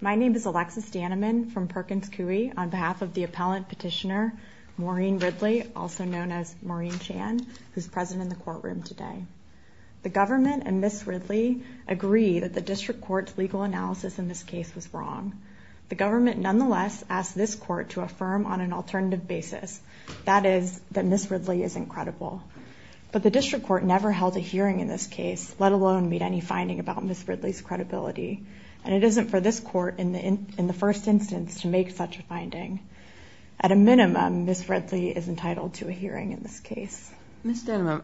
My name is Alexis Dannemann from Perkins Coie on behalf of the appellant petitioner Maureen Ridley, also known as Maureen Chan, who's present in the courtroom today. The government and Ms. Ridley agree that the district court's legal analysis in this case was wrong. The government nonetheless asked this court to affirm on an alternative basis, that is, that Ms. Ridley isn't credible. But the district court never held a hearing in this case, let alone made any Ms. Ridley's credibility. And it isn't for this court, in the first instance, to make such a finding. At a minimum, Ms. Ridley is entitled to a hearing in this case. Ms. Dannemann,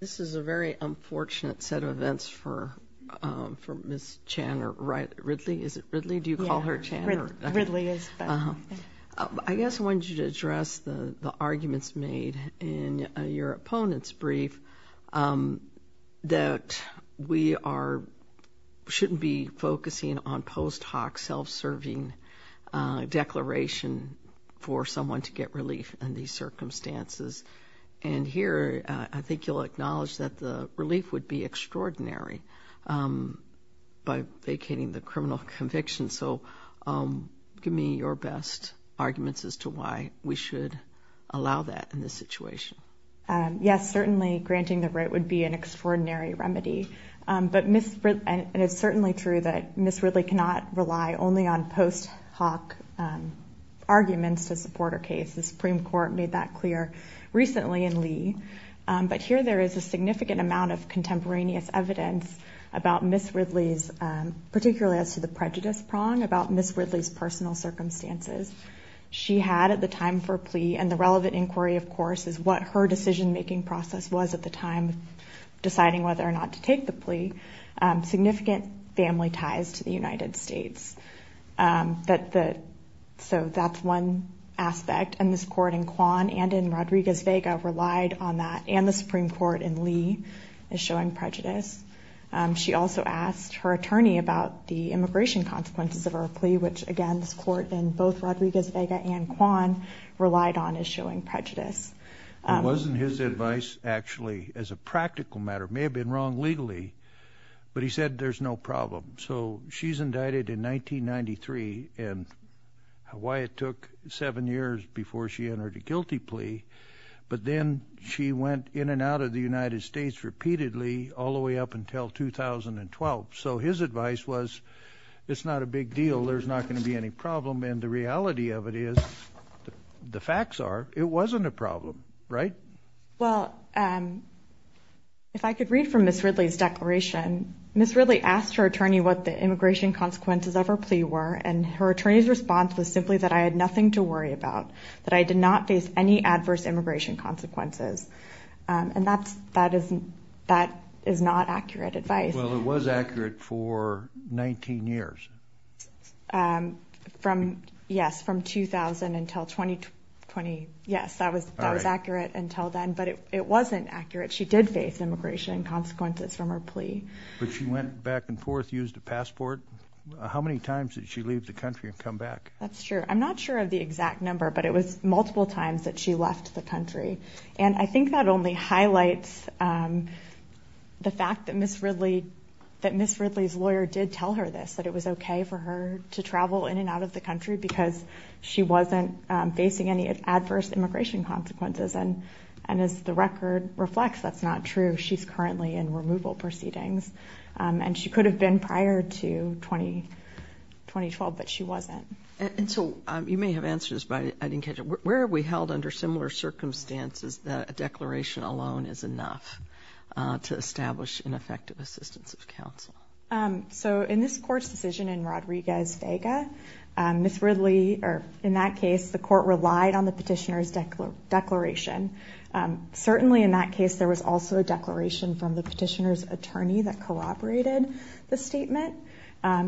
this is a very unfortunate set of events for Ms. Chan, or Ridley. Is it Ridley? Do you call her Chan? I guess I wanted you to address the fact that we shouldn't be focusing on post hoc self-serving declaration for someone to get relief in these circumstances. And here, I think you'll acknowledge that the relief would be extraordinary by vacating the criminal conviction. So give me your best arguments as to why we should allow that in this situation. Yes, certainly granting the right would be an But Ms. Ridley, and it's certainly true that Ms. Ridley cannot rely only on post hoc arguments to support her case. The Supreme Court made that clear recently in Lee. But here there is a significant amount of contemporaneous evidence about Ms. Ridley's, particularly as to the prejudice prong, about Ms. Ridley's personal circumstances. She had at the time for plea, and the relevant inquiry of course, is what her decision-making process was at the time deciding whether or not to take the plea, significant family ties to the United States. So that's one aspect. And this court in Quan and in Rodriguez-Vega relied on that. And the Supreme Court in Lee is showing prejudice. She also asked her attorney about the immigration consequences of her plea, which again, this court in both Rodriguez-Vega and Quan relied on is showing prejudice. It wasn't his advice actually, as a practical matter, may have been wrong legally, but he said there's no problem. So she's indicted in 1993 and why it took seven years before she entered a guilty plea. But then she went in and out of the United States repeatedly all the way up until 2012. So his advice was it's not a big deal. There's not going to be any problem. And the reality of it is, the facts are, it wasn't a problem, right? Well, if I could read from Ms. Ridley's declaration, Ms. Ridley asked her attorney what the immigration consequences of her plea were, and her attorney's response was simply that I had nothing to worry about, that I did not face any adverse immigration consequences. And that is not accurate advice. Well, it was accurate for 19 years. Yes, from 2000 until 2020. Yes, that was accurate until then, but it wasn't accurate. She did face immigration consequences from her plea. But she went back and forth, used a passport. How many times did she leave the country and come back? That's true. I'm not sure of the exact number, but it was multiple times that she left the country. And I think that only highlights the fact that Ms. Ridley was okay for her to travel in and out of the country because she wasn't facing any adverse immigration consequences. And as the record reflects, that's not true. She's currently in removal proceedings. And she could have been prior to 2012, but she wasn't. And so you may have answered this, but I didn't catch it. Where are we held under similar circumstances that a declaration alone is enough to establish ineffective assistance of counsel? So in this court's decision in Rodriguez-Vega, Ms. Ridley, or in that case, the court relied on the petitioner's declaration. Certainly in that case, there was also a declaration from the petitioner's attorney that corroborated the statement.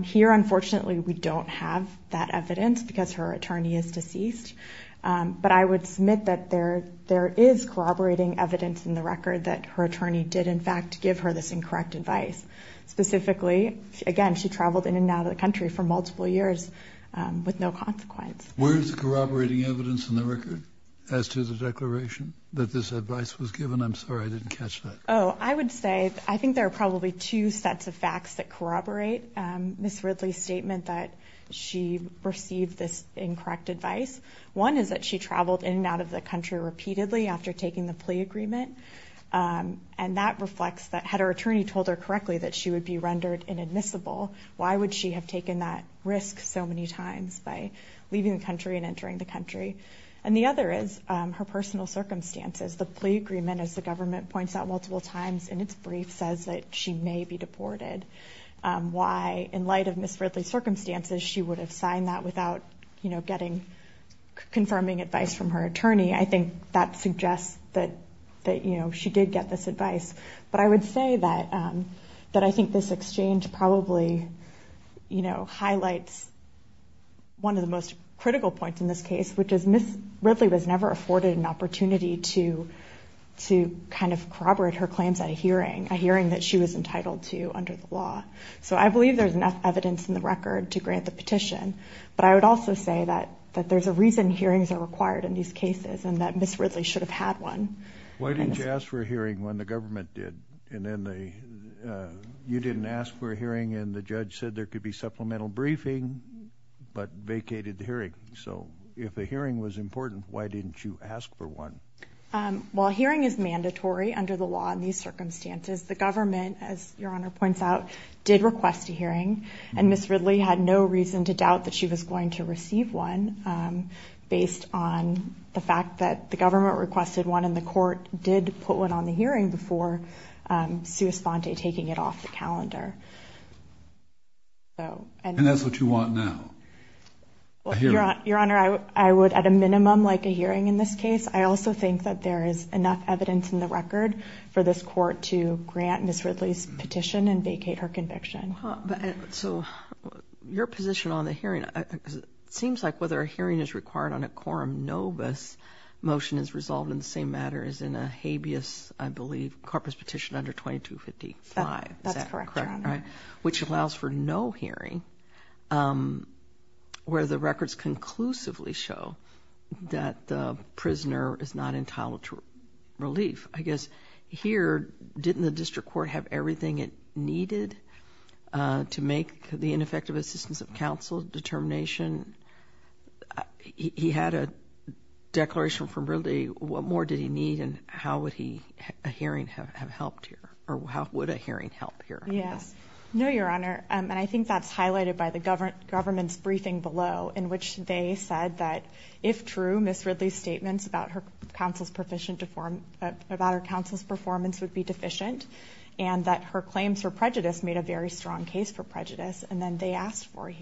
Here, unfortunately, we don't have that evidence because her attorney is deceased. But I would submit that there is corroborating evidence in the record that her attorney did, in fact, give her this incorrect advice. Specifically, again, she traveled in and out of the country for multiple years with no consequence. Where is the corroborating evidence in the record as to the declaration that this advice was given? I'm sorry, I didn't catch that. Oh, I would say, I think there are probably two sets of facts that corroborate Ms. Ridley's statement that she received this incorrect advice. One is that she traveled in and out of the country repeatedly after taking the risk. Her attorney told her correctly that she would be rendered inadmissible. Why would she have taken that risk so many times by leaving the country and entering the country? And the other is her personal circumstances. The plea agreement, as the government points out multiple times in its brief, says that she may be deported. Why, in light of Ms. Ridley's circumstances, she would have signed that without, you know, getting confirming advice from her attorney. I think that suggests that, you know, she did get this advice. But I would say that I think this exchange probably, you know, highlights one of the most critical points in this case, which is Ms. Ridley was never afforded an opportunity to kind of corroborate her claims at a hearing, a hearing that she was entitled to under the law. So I believe there's enough evidence in the record to grant the petition. But I would also say that there's a reason hearings are required in these cases and that Ms. Ridley should have had one. Why didn't you ask for a hearing when the government did? And then they, you didn't ask for a hearing and the judge said there could be supplemental briefing, but vacated the hearing. So if the hearing was important, why didn't you ask for one? While hearing is mandatory under the law in these circumstances, the government, as your honor points out, did request a hearing. And Ms. Ridley had no reason to doubt that she was going to receive one based on the fact that the government requested one and the court did put one on the hearing before, um, sua sponte, taking it off the calendar. So, and that's what you want now. Well, your honor, I would at a minimum like a hearing in this case. I also think that there is enough evidence in the record for this court to grant Ms. Ridley's petition and vacate her conviction. So your position on the Quorum Novus motion is resolved in the same matter as in a habeas, I believe, corpus petition under 2255. Is that correct? Right. Which allows for no hearing, um, where the records conclusively show that the prisoner is not entitled to relief. I guess here, didn't the district court have everything it needed, uh, to make the ineffective assistance of counsel determination? He had a declaration from really, what more did he need? And how would he hearing have have helped here? Or how would a hearing help here? Yes. No, your honor. And I think that's highlighted by the government government's briefing below, in which they said that if true, Miss Ridley's statements about her counsel's proficient to form about her counsel's performance would be deficient and that her claims for prejudice made a very strong case for prejudice. And then they asked for a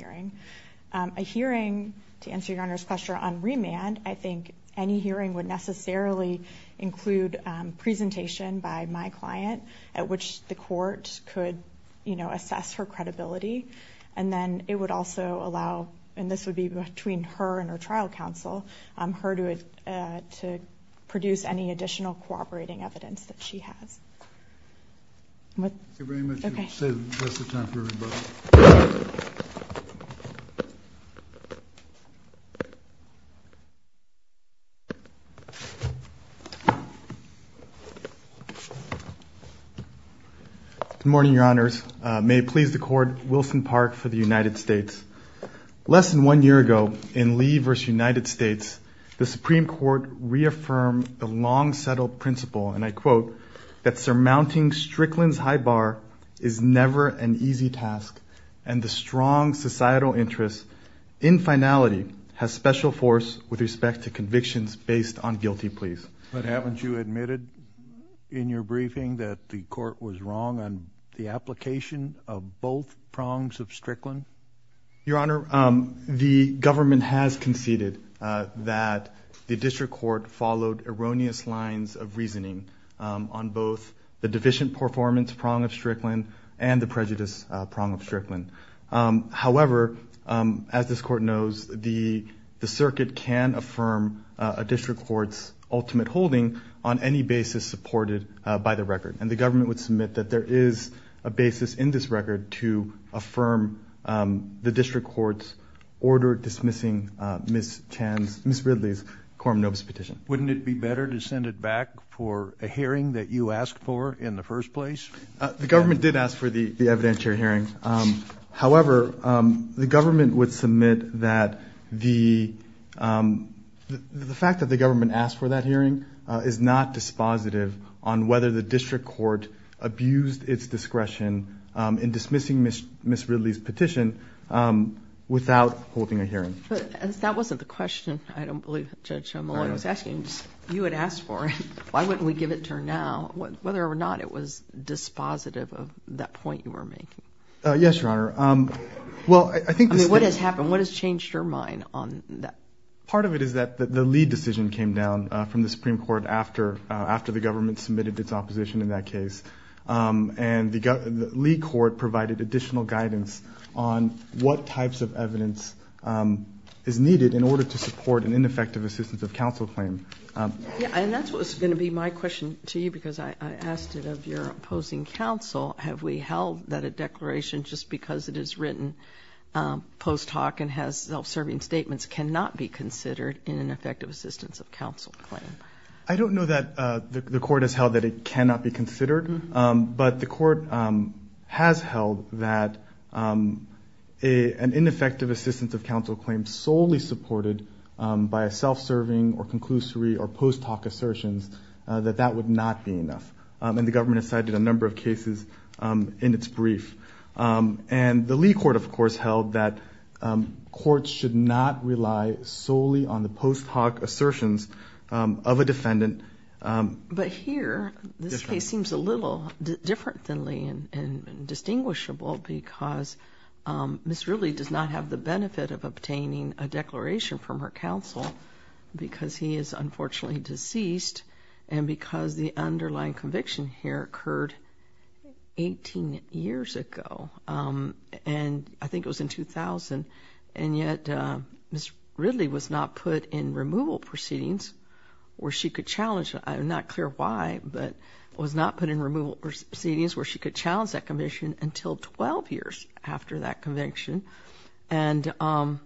hearing to answer your honor's question on remand. I think any hearing would necessarily include presentation by my client at which the court could, you know, assess her credibility. And then it would also allow, and this would be between her and her trial counsel, um, her to, uh, to produce any additional cooperating evidence that she has. What? Okay. Okay. Good morning, your honors. May it please the court. Wilson Park for the United States. Less than one year ago in Lee versus United States, the Supreme Court reaffirmed the long settled principle and I quote that surmounting Strickland's high bar is never an easy task. And the strong societal interest in finality has special force with respect to convictions based on guilty pleas. But haven't you admitted in your briefing that the court was wrong on the application of both prongs of Strickland? Your honor, um, the government has conceded, uh, that the district court followed erroneous lines of reasoning, um, on both the deficient performance prong of Strickland and the prejudice prong of Strickland. However, um, as this court knows, the, the circuit can affirm a district court's ultimate holding on any basis supported by the record. And the government would submit that there is a basis in this record to affirm, um, the district court's order dismissing, uh, Ms. Chan's, Ms. Ridley's quorum notice petition. Wouldn't it be better to send it back for a hearing that you asked for in the first place? Uh, the court, um, the government would submit that the, um, the fact that the government asked for that hearing, uh, is not dispositive on whether the district court abused its discretion, um, in dismissing Ms. Ridley's petition, um, without holding a hearing. But that wasn't the question. I don't believe Judge Mullen was asking. You had asked for it. Why wouldn't we give it to her now? Whether or not it was dispositive of that point you were making? Uh, yes, Your Honor. Um, well, I think what has happened? What has changed your mind on that? Part of it is that the lead decision came down from the Supreme Court after, uh, after the government submitted its opposition in that case. Um, and the lead court provided additional guidance on what types of evidence, um, is needed in order to support an ineffective assistance of counsel claim. Um, and that's what's going to be my question to you because I asked it of your opposing counsel. Have we held that a declaration just because it is written, um, post hoc and has self serving statements cannot be considered in an effective assistance of counsel claim? I don't know that, uh, the court has held that it cannot be considered. Um, but the court, um, has held that, um, a an ineffective assistance of counsel claims solely supported by a self serving or conclusory or post hoc assertions that that would not be enough. Um, and the in its brief, um, and the Lee court, of course, held that, um, courts should not rely solely on the post hoc assertions of a defendant. Um, but here, this case seems a little different than Lee and distinguishable because, um, Ms. Ridley does not have the benefit of obtaining a declaration from her counsel because he is unfortunately deceased and because the underlying conviction here occurred 18 years ago. Um, and I think it was in 2000. And yet, uh, Mr. Ridley was not put in removal proceedings where she could challenge. I'm not clear why, but was not put in removal proceedings where she could challenge that commission until 12 years after that conviction. And, um,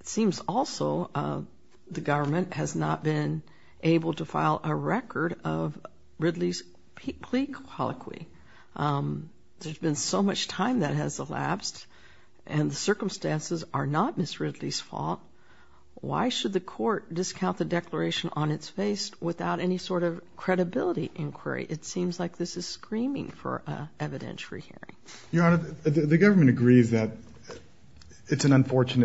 it seems also, uh, the government has not been able to file a record of Ridley's plea colloquy. Um, there's been so much time that has elapsed and the circumstances are not Ms. Ridley's fault. Why should the court discount the declaration on its face without any sort of credibility inquiry? It seems like this is screaming for evidentiary hearing. Your Honor, the government agrees that it's an apart from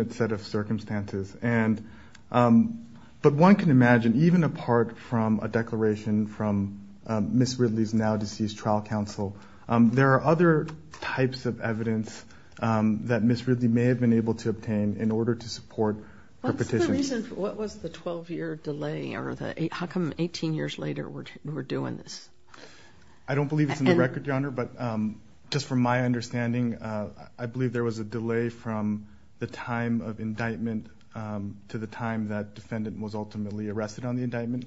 a declaration from Ms. Ridley's now deceased trial counsel. Um, there are other types of evidence, um, that Ms. Ridley may have been able to obtain in order to support the petition. What was the 12 year delay? Or the, how come 18 years later we're doing this? I don't believe it's in the record, Your Honor, but, um, just from my understanding, uh, I believe there was a delay from the time of indictment, um, to the time that defendant was ultimately arrested on the indictment.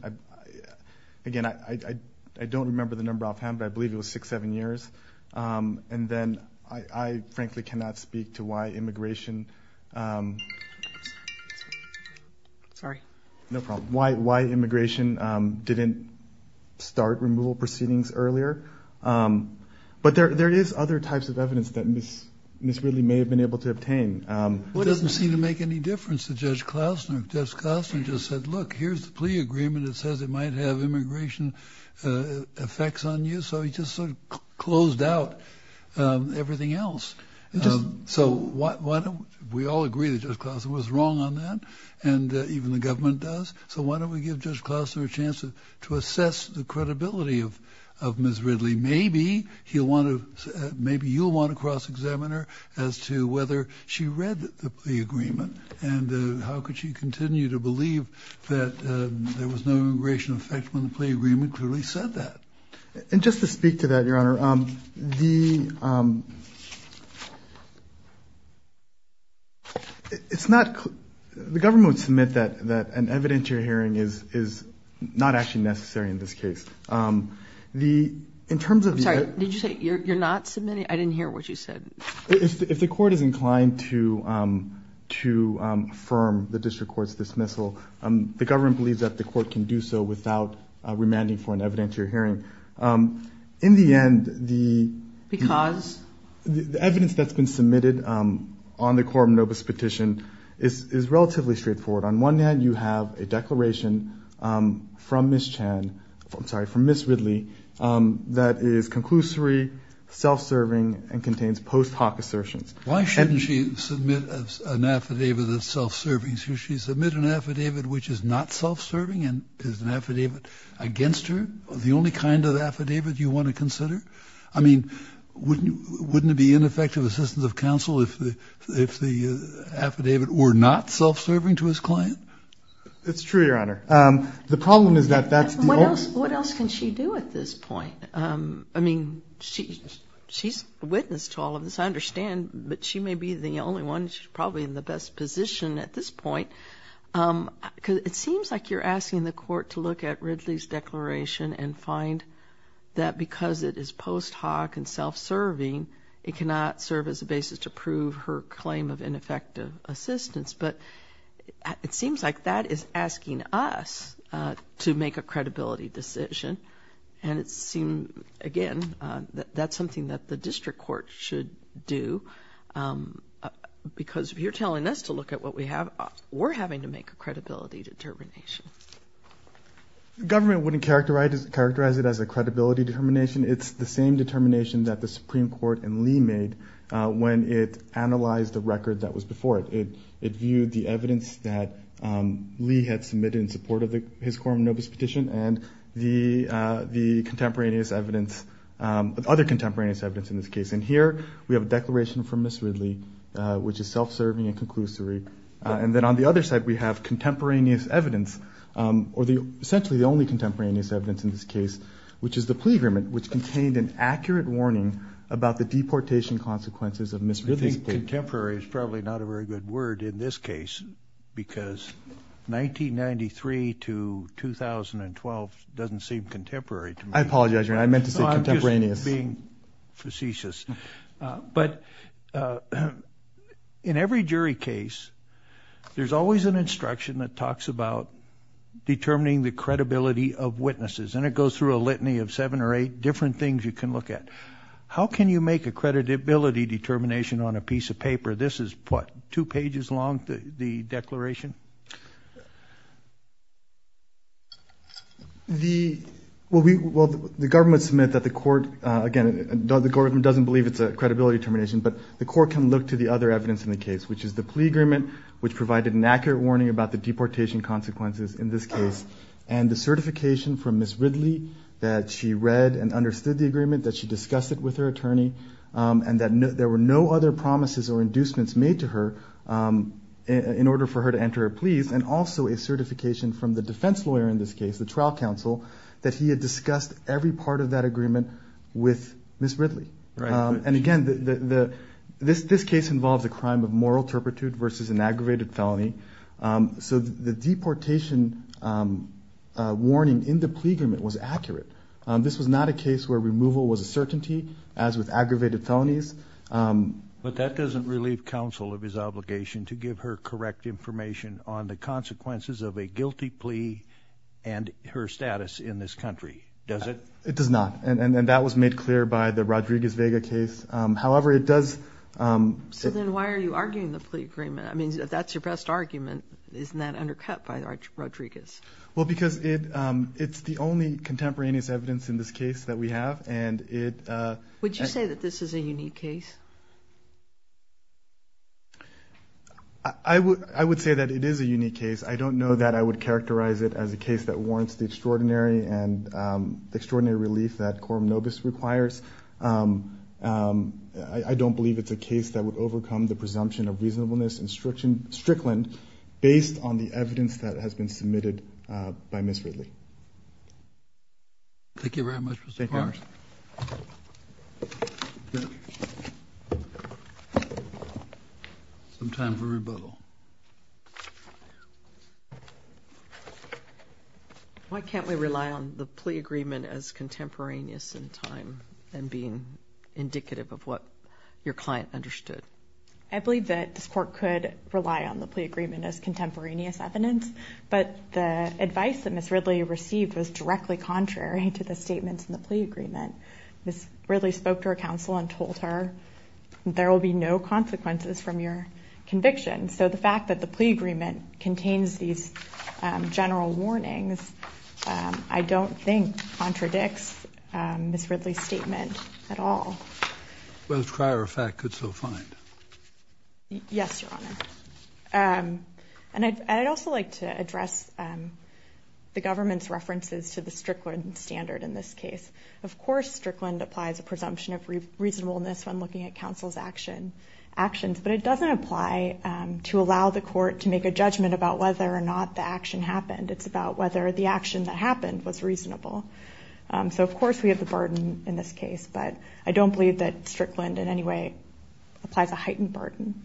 Again, I don't remember the number offhand, but I believe it was six, seven years. Um, and then I, I frankly cannot speak to why immigration, um, sorry, no problem. Why, why immigration, um, didn't start removal proceedings earlier. Um, but there, there is other types of evidence that Ms. Ms. Ridley may have been able to obtain. Um, it doesn't seem to make any difference to Judge Klausner. Judge Klausner just said, look, here's the plea agreement. It says it might have immigration, uh, effects on you. So he just sort of closed out, um, everything else. Um, so why, why don't we all agree that Judge Klausner was wrong on that? And even the government does. So why don't we give Judge Klausner a chance to assess the credibility of, of Ms. Ridley? Maybe he'll want to, maybe you'll want to cross examine her as to whether she read the plea agreement and, uh, how could she continue to believe that, uh, there was no immigration effect when the plea agreement clearly said that. And just to speak to that, Your Honor, um, the, um, it's not, the government would submit that, that an evidentiary hearing is, is not actually necessary in this case. Um, the, in terms of, sorry, did you say you're, you're not submitting? I didn't hear what you said. If the court is inclined to, um, to, um, affirm the district court's dismissal, um, the government believes that the court can do so without, uh, remanding for an evidentiary hearing. Um, in the end, the, because the evidence that's been submitted, um, on the Quorum Novus petition is, is relatively straightforward. On one hand, you have a declaration, um, from Ms. Chan, I'm sorry, from Ms. Ridley, um, that is conclusory, self-serving and contains post hoc assertions. Why shouldn't she submit an affidavit that's self-serving? Should she submit an affidavit which is not self-serving and is an affidavit against her? The only kind of affidavit you want to consider? I mean, wouldn't, wouldn't it be ineffective assistance of counsel if the, if the affidavit were not self-serving to his client? It's true, Your Honor. Um, the problem is that that's the only... What else, what else can she do at this point? Um, I mean, she, she's a witness to all of this. I understand, but she may be the only one. She's probably in the best position at this point. Um, cause it seems like you're asking the court to look at Ridley's declaration and find that because it is post hoc and self-serving, it cannot serve as a basis to prove her claim of ineffective assistance. But it seems like that is asking us, uh, to make a credibility decision. And it seemed, again, uh, that that's something that the district court should do. Um, uh, because if you're telling us to look at what we have, we're having to make a credibility determination. Government wouldn't characterize it as a credibility determination. It's the same determination that the Supreme Court and Lee made, uh, when it analyzed the record that was before it. It, it viewed the evidence that, um, Lee had the, uh, the contemporaneous evidence, um, other contemporaneous evidence in this case. And here we have a declaration from Ms. Ridley, uh, which is self-serving and conclusory. Uh, and then on the other side, we have contemporaneous evidence, um, or the essentially the only contemporaneous evidence in this case, which is the plea agreement, which contained an accurate warning about the deportation consequences of Ms. Ridley's plea. Contemporary is probably not a very good word in this case because 1993 to 2012 doesn't seem contemporary to me. I apologize. I meant to say contemporaneous. I'm just being facetious. Uh, but, uh, in every jury case, there's always an instruction that talks about determining the credibility of witnesses. And it goes through a litany of seven or eight different things you can look at. How can you make a credibility determination on a piece of paper? This is what, two pages long, the declaration? The, well, we, well, the government submit that the court, uh, again, the government doesn't believe it's a credibility determination, but the court can look to the other evidence in the case, which is the plea agreement, which provided an accurate warning about the deportation consequences in this case. And the certification from Ms. Ridley that she read and understood the agreement, that she discussed it with her attorney, um, and that there were no other promises or inducements made to her, um, in order for her to enter her pleas and also a certification from the defense lawyer in this case, the trial counsel, that he had discussed every part of that agreement with Ms. Ridley. Um, and again, the, the, the, this, this case involves a crime of moral turpitude versus an aggravated felony. Um, so the deportation, um, uh, warning in the plea agreement was accurate. Um, this was not a case where removal was a certainty as with aggravated felonies. Um, but that doesn't relieve counsel of his obligation to give her correct information on the consequences of a guilty plea and her status in this country, does it? It does not. And that was made clear by the Rodriguez-Vega case. Um, however, it does, um, So then why are you arguing the plea agreement? I mean, if that's your best argument, isn't that undercut by Rodriguez? Well, because it, um, it's the only contemporaneous evidence in this case that we have. And it, uh, Would you say that this is a unique case? I would, I would say that it is a unique case. I don't know that I would characterize it as a case that warrants the extraordinary and, um, the extraordinary relief that Coram Nobis requires. Um, um, I don't believe it's a case that would overcome the presumption of reasonableness and striction, based on the evidence that has been submitted, uh, by Ms. Ridley. Thank you very much, Mr. Clark. Ms. Norton. Some time for rebuttal. Why can't we rely on the plea agreement as contemporaneous in time and being indicative of what your client understood? I believe that this court could rely on the plea agreement as contemporaneous evidence, but the advice that Ms. Ridley received was directly contrary to the plea agreement. Ms. Ridley spoke to her counsel and told her there will be no consequences from your conviction. So the fact that the plea agreement contains these, um, general warnings, um, I don't think contradicts, um, Ms. Ridley's statement at all. Well, as a prior effect could so find. Yes, Your Honor. Um, and I'd, I'd also like to address, um, the government's standard in this case. Of course, Strickland applies a presumption of reasonableness when looking at counsel's action actions, but it doesn't apply, um, to allow the court to make a judgment about whether or not the action happened. It's about whether the action that happened was reasonable. Um, so of course we have the burden in this case, but I don't believe that Strickland in any way applies a heightened burden.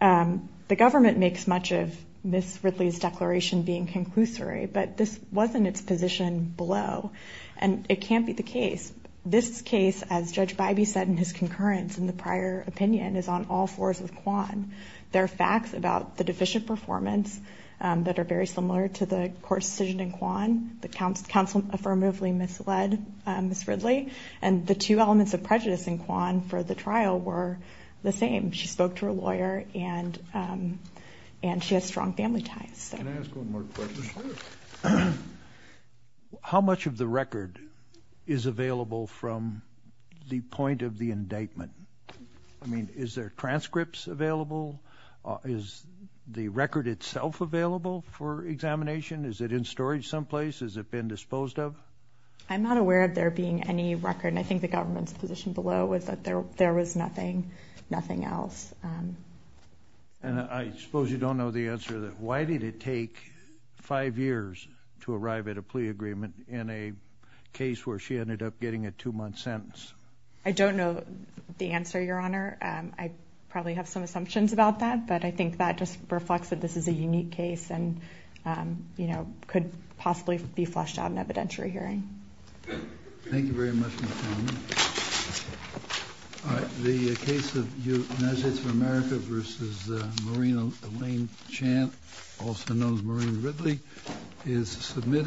Um, the government makes much of Ms. Ridley's inconclusory, but this wasn't its position below, and it can't be the case. This case, as Judge Bybee said in his concurrence in the prior opinion, is on all fours with Kwan. There are facts about the deficient performance, um, that are very similar to the court's decision in Kwan that counsel affirmatively misled, um, Ms. Ridley. And the two elements of prejudice in Kwan for the trial were the same. She spoke to her lawyer and, um, and she has strong family ties. Can I ask one more question? How much of the record is available from the point of the indictment? I mean, is there transcripts available? Is the record itself available for examination? Is it in storage someplace? Has it been disposed of? I'm not aware of there being any record, and I think the government's position below was that there there was nothing, nothing else. Um, and I suppose you don't know the answer to that. Why did it take five years to arrive at a plea agreement in a case where she ended up getting a two month sentence? I don't know the answer, Your Honor. I probably have some assumptions about that, but I think that just reflects that this is a unique case and, um, you know, could possibly be flushed out in evidentiary hearing. Thank you very much. All right. The case of you measures for America versus Marina Lane Champ, also known as Marine Ridley, is submitted.